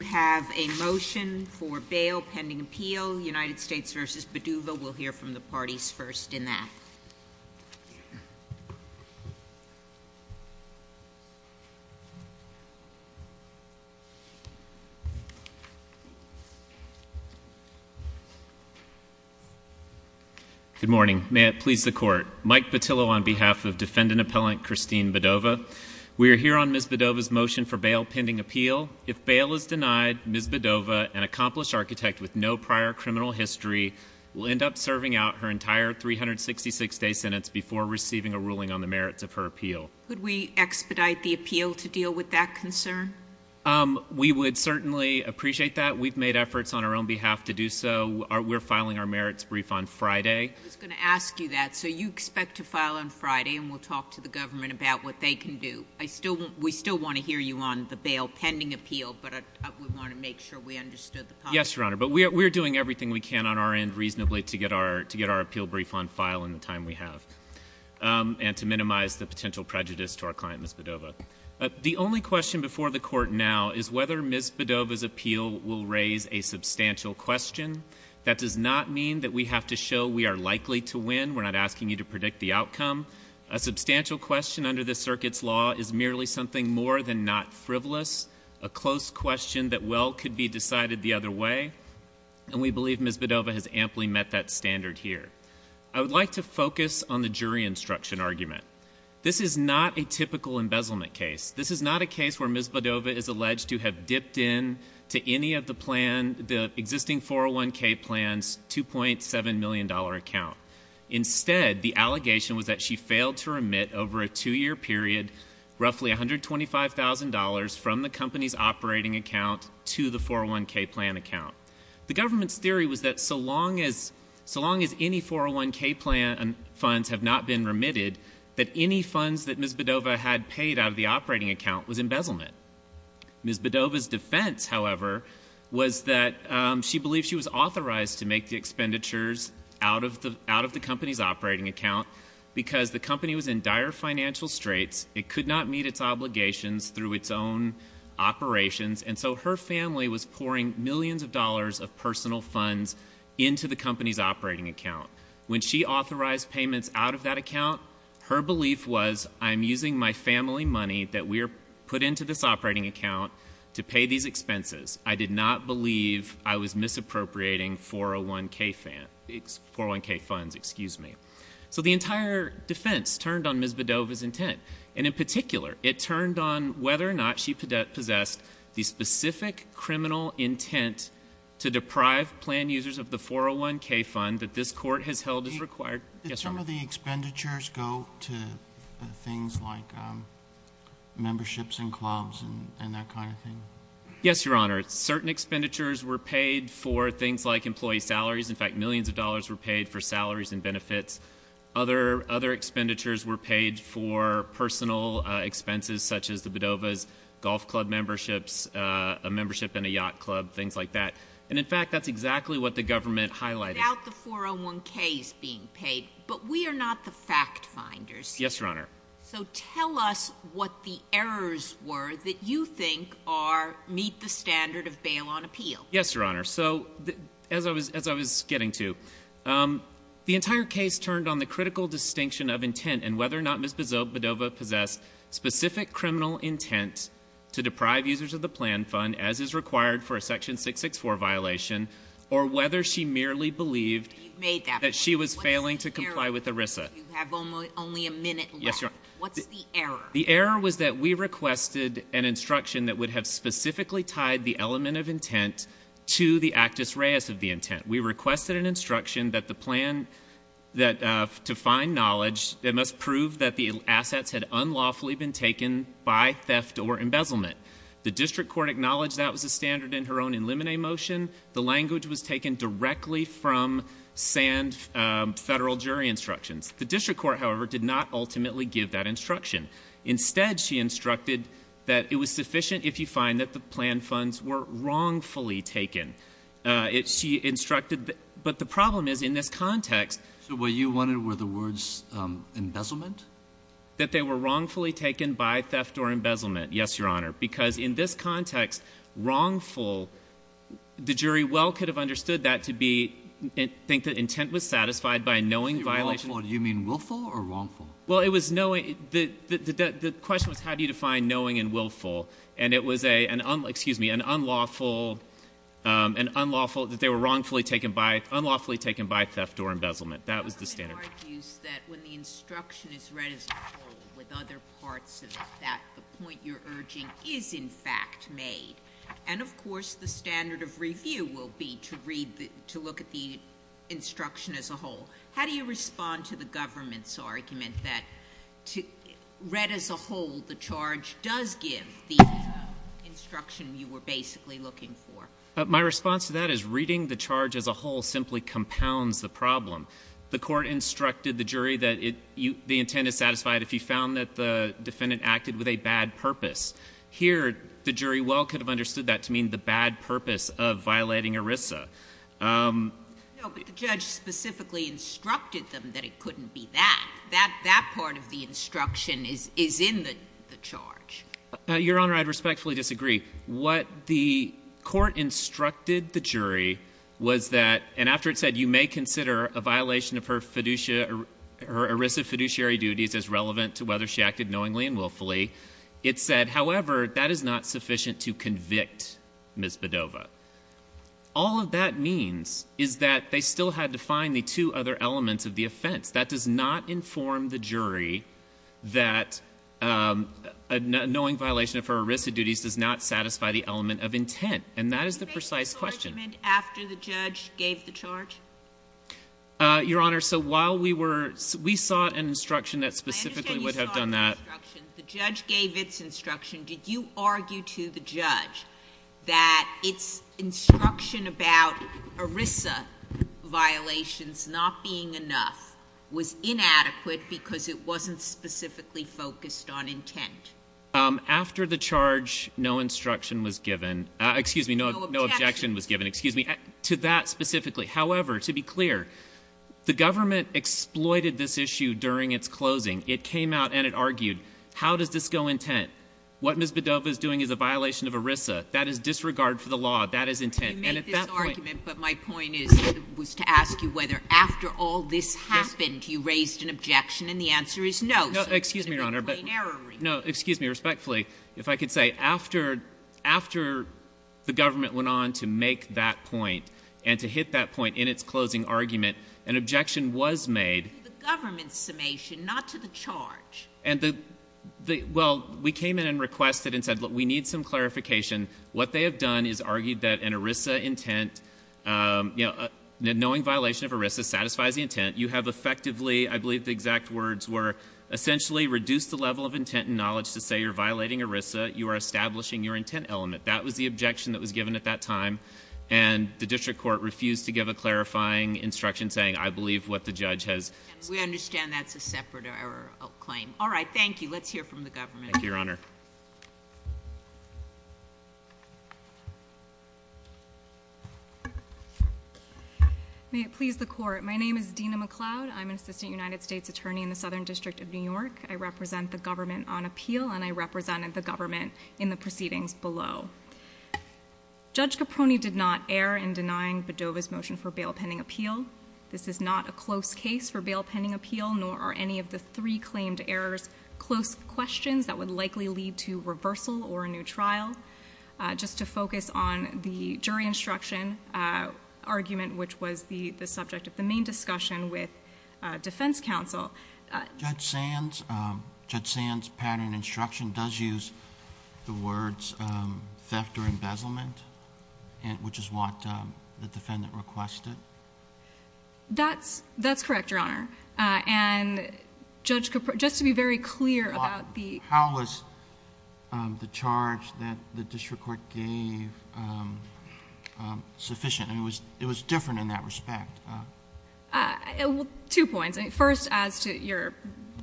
We have a motion for bail pending appeal, United States v. Bodova. We'll hear from the parties first in that. Good morning. May it please the court. Mike Bottillo on behalf of defendant appellant Christine Bodova. We are here on Ms. Bodova's motion for bail pending appeal. If bail is denied, Ms. Bodova, an accomplished architect with no prior criminal history, will end up serving out her entire 366-day sentence before receiving a ruling on the merits of her appeal. Could we expedite the appeal to deal with that concern? We would certainly appreciate that. We've made efforts on our own behalf to do so. We're filing our merits brief on Friday. I was going to ask you that. So you expect to file on Friday, and we'll talk to the government about what they can do. We still want to hear you on the bail pending appeal, but I would want to make sure we understood the policy. Yes, Your Honor. But we're doing everything we can on our end reasonably to get our appeal brief on file in the time we have and to minimize the potential prejudice to our client, Ms. Bodova. The only question before the court now is whether Ms. Bodova's appeal will raise a substantial question. That does not mean that we have to show we are likely to win. We're not asking you to predict the outcome. A substantial question under this circuit's law is merely something more than not frivolous, a close question that well could be decided the other way. And we believe Ms. Bodova has amply met that standard here. I would like to focus on the jury instruction argument. This is not a typical embezzlement case. This is not a case where Ms. Bodova is alleged to have dipped into any of the existing 401k plan's $2.7 million account. Instead, the allegation was that she failed to remit over a two-year period roughly $125,000 from the company's operating account to the 401k plan account. The government's theory was that so long as any 401k plan funds have not been remitted, that any funds that Ms. Bodova had paid out of the operating account was embezzlement. Ms. Bodova's defense, however, was that she believed she was authorized to make the expenditures out of the company's operating account because the company was in dire financial straits, it could not meet its obligations through its own operations, and so her family was pouring millions of dollars of personal funds into the company's operating account. When she authorized payments out of that account, her belief was, I'm using my family money that we're put into this operating account to pay these expenses. I did not believe I was misappropriating 401k funds. So the entire defense turned on Ms. Bodova's intent. And in particular, it turned on whether or not she possessed the specific criminal intent to deprive plan users of the 401k fund that this court has held as required. Yes, Your Honor. Did some of the expenditures go to things like memberships in clubs and that kind of thing? Yes, Your Honor. Certain expenditures were paid for things like employee salaries. In fact, millions of dollars were paid for salaries and benefits. Other expenditures were paid for personal expenses such as the Bodova's golf club memberships, a membership in a yacht club, things like that. And in fact, that's exactly what the government highlighted. Without the 401k's being paid. But we are not the fact finders. Yes, Your Honor. So tell us what the errors were that you think meet the standard of bail on appeal. Yes, Your Honor. So as I was getting to, the entire case turned on the critical distinction of intent and whether or not Ms. Bodova possessed specific criminal intent to deprive users of the plan fund as is required for a section 664 violation or whether she merely believed that she was failing to comply with ERISA. You have only a minute left. Yes, Your Honor. What's the error? The error was that we requested an instruction that would have specifically tied the element of intent to the actus reus of the intent. We requested an instruction that the plan that to find knowledge, it must prove that the assets had unlawfully been taken by theft or embezzlement. The district court acknowledged that was a standard in her own in limine motion. The language was taken directly from sand federal jury instructions. The district court, however, did not ultimately give that instruction. Instead, she instructed that it was sufficient if you find that the plan funds were wrongfully taken. She instructed, but the problem is in this context. So what you wanted were the words embezzlement? That they were wrongfully taken by theft or embezzlement. Yes, Your Honor. Because in this context, wrongful, the jury well could have understood that to be, I think the intent was satisfied by knowing violation. Wrongful, do you mean willful or wrongful? Well, it was knowing, the question was how do you define knowing and willful? And it was a, excuse me, an unlawful, an unlawful, that they were wrongfully taken by, unlawfully taken by theft or embezzlement. That was the standard. The court argues that when the instruction is read as a whole with other parts of that, the point you're urging is, in fact, made. And, of course, the standard of review will be to read, to look at the instruction as a whole. How do you respond to the government's argument that read as a whole, the charge does give the instruction you were basically looking for? My response to that is reading the charge as a whole simply compounds the problem. The court instructed the jury that the intent is satisfied if you found that the defendant acted with a bad purpose. Here, the jury well could have understood that to mean the bad purpose of violating ERISA. No, but the judge specifically instructed them that it couldn't be that. That part of the instruction is in the charge. Your Honor, I'd respectfully disagree. What the court instructed the jury was that, and after it said you may consider a violation of her ERISA fiduciary duties as relevant to whether she acted knowingly and willfully, it said, however, that is not sufficient to convict Ms. Bedova. All of that means is that they still had to find the two other elements of the offense. That does not inform the jury that a knowing violation of her ERISA duties does not satisfy the element of intent. And that is the precise question. Did you make the argument after the judge gave the charge? Your Honor, so while we were, we saw an instruction that specifically would have done that. The judge gave its instruction. Did you argue to the judge that its instruction about ERISA violations not being enough was inadequate because it wasn't specifically focused on intent? After the charge, no instruction was given. Excuse me. No objection was given. Excuse me. To that specifically. However, to be clear, the government exploited this issue during its closing. It came out and it argued, how does this go intent? What Ms. Bedova is doing is a violation of ERISA. That is disregard for the law. That is intent. You made this argument, but my point is, was to ask you whether after all this happened, you raised an objection, and the answer is no. Excuse me, Your Honor. No, excuse me. Respectfully, if I could say, after the government went on to make that point and to hit that point in its closing argument, an objection was made. To the government's summation, not to the charge. We came in and requested and said, look, we need some clarification. What they have done is argued that an ERISA intent, knowing violation of ERISA satisfies the intent, you have effectively, I believe the exact words were, essentially reduced the level of intent and knowledge to say you're violating ERISA. You are establishing your intent element. That was the objection that was given at that time, and the district court refused to give a clarifying instruction saying, I believe what the judge has said. We understand that's a separate claim. All right, thank you. Let's hear from the government. Thank you, Your Honor. May it please the court. My name is Dina McCloud. I'm an assistant United States attorney in the Southern District of New York. I represent the government on appeal, and I represented the government in the proceedings below. Judge Caprone did not err in denying Bodova's motion for bail pending appeal. This is not a close case for bail pending appeal, nor are any of the three claimed errors close questions that would likely lead to reversal or a new trial. Just to focus on the jury instruction argument, which was the subject of the main discussion with defense counsel. Judge Sand's pattern instruction does use the words theft or embezzlement, which is what the defendant requested. That's correct, Your Honor. And, Judge Caprone, just to be very clear about the- How was the charge that the district court gave sufficient? It was different in that respect. Two points. First,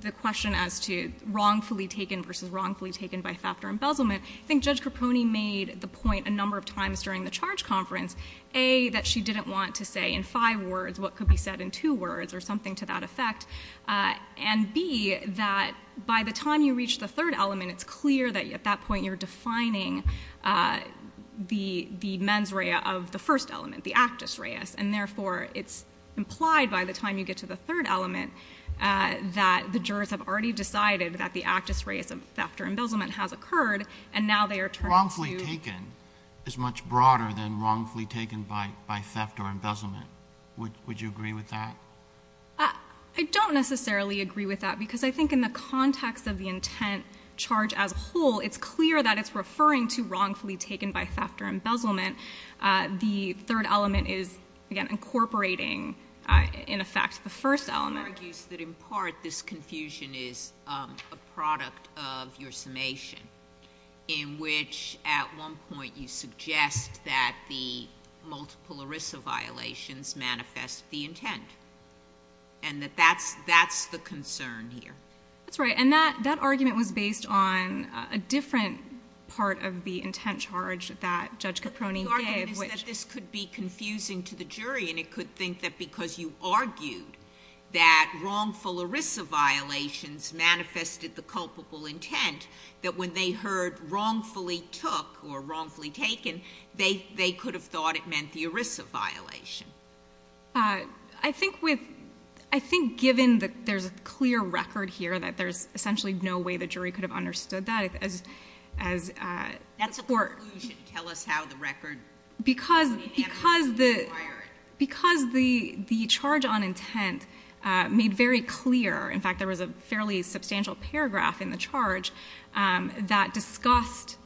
the question as to wrongfully taken versus wrongfully taken by theft or embezzlement. I think Judge Caprone made the point a number of times during the charge conference, A, that she didn't want to say in five words what could be said in two words or something to that effect, and B, that by the time you reach the third element, it's clear that at that point you're defining the mens rea of the first element, the actus reis, and therefore it's implied by the time you get to the third element that the jurors have already decided that the actus reis of theft or embezzlement has occurred, and now they are turning to- Wrongfully taken is much broader than wrongfully taken by theft or embezzlement. Would you agree with that? I don't necessarily agree with that because I think in the context of the intent charge as a whole, it's clear that it's referring to wrongfully taken by theft or embezzlement. The third element is, again, incorporating, in effect, the first element. She argues that in part this confusion is a product of your summation, in which at one point you suggest that the multiple ERISA violations manifest the intent, and that that's the concern here. That's right, and that argument was based on a different part of the intent charge that Judge Caproni gave. But the argument is that this could be confusing to the jury, and it could think that because you argued that wrongful ERISA violations manifested the culpable intent, that when they heard wrongfully took or wrongfully taken, they could have thought it meant the ERISA violation. I think given that there's a clear record here, that there's essentially no way the jury could have understood that as a court. That's a conclusion. Tell us how the record is enacted. Because the charge on intent made very clear, in fact there was a fairly substantial paragraph in the charge that discussed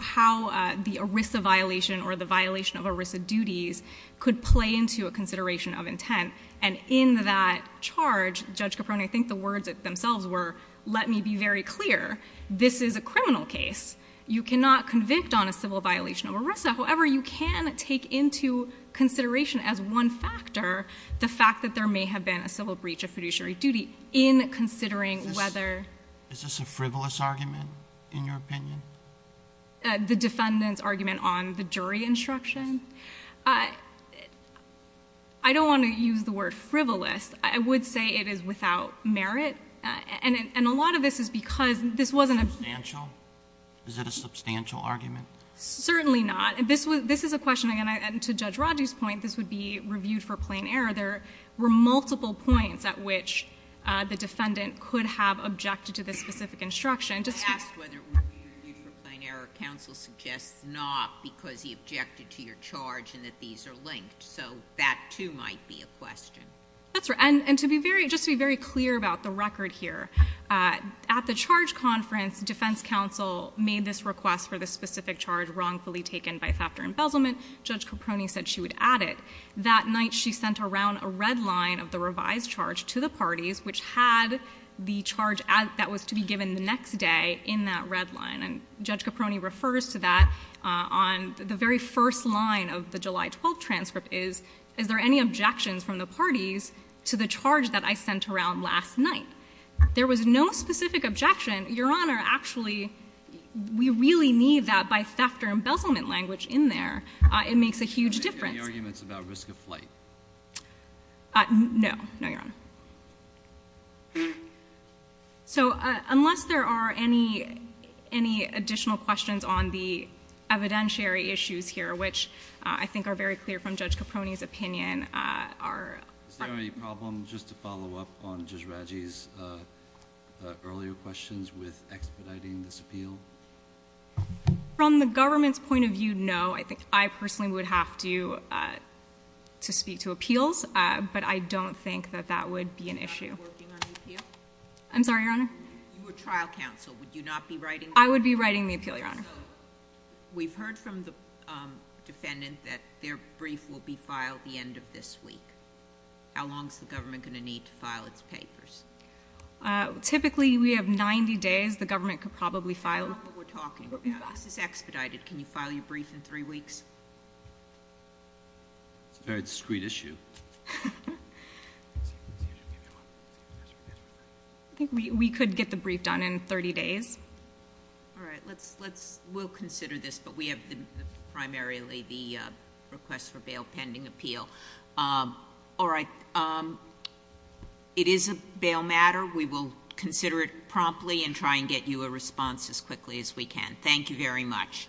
how the ERISA violation or the violation of ERISA duties could play into a consideration of intent. And in that charge, Judge Caproni, I think the words themselves were, let me be very clear, this is a criminal case. You cannot convict on a civil violation of ERISA. However, you can take into consideration as one factor, the fact that there may have been a civil breach of fiduciary duty in considering whether... Is this a frivolous argument, in your opinion? The defendant's argument on the jury instruction? I don't want to use the word frivolous. I would say it is without merit. And a lot of this is because this wasn't a... Substantial? Is it a substantial argument? Certainly not. This is a question, and to Judge Rodgers' point, this would be reviewed for plain error. There were multiple points at which the defendant could have objected to this specific instruction. I asked whether it would be reviewed for plain error. Counsel suggests not, because he objected to your charge and that these are linked. So that, too, might be a question. That's right. And to be very clear about the record here, at the charge conference, defense counsel made this request for the specific charge wrongfully taken by theft or embezzlement. Judge Caproni said she would add it. That night, she sent around a red line of the revised charge to the parties, which had the charge that was to be given the next day in that red line. And Judge Caproni refers to that on the very first line of the July 12th transcript is, is there any objections from the parties to the charge that I sent around last night? There was no specific objection. Your Honor, actually, we really need that by theft or embezzlement language in there. It makes a huge difference. Any arguments about risk of flight? No. No, Your Honor. So, unless there are any additional questions on the evidentiary issues here, which I think are very clear from Judge Caproni's opinion, our Is there any problem, just to follow up on Judge Raggi's earlier questions, with expediting this appeal? From the government's point of view, no. I think I personally would have to speak to appeals. But I don't think that that would be an issue. I'm sorry, Your Honor? You were trial counsel. Would you not be writing the appeal? I would be writing the appeal, Your Honor. So, we've heard from the defendant that their brief will be filed the end of this week. How long is the government going to need to file its papers? Typically, we have 90 days. The government could probably file— That's not what we're talking about. This is expedited. Can you file your brief in three weeks? It's a very discreet issue. I think we could get the brief done in 30 days. All right. We'll consider this, but we have primarily the request for bail pending appeal. All right. It is a bail matter. We will consider it promptly and try and get you a response as quickly as we can. Thank you very much.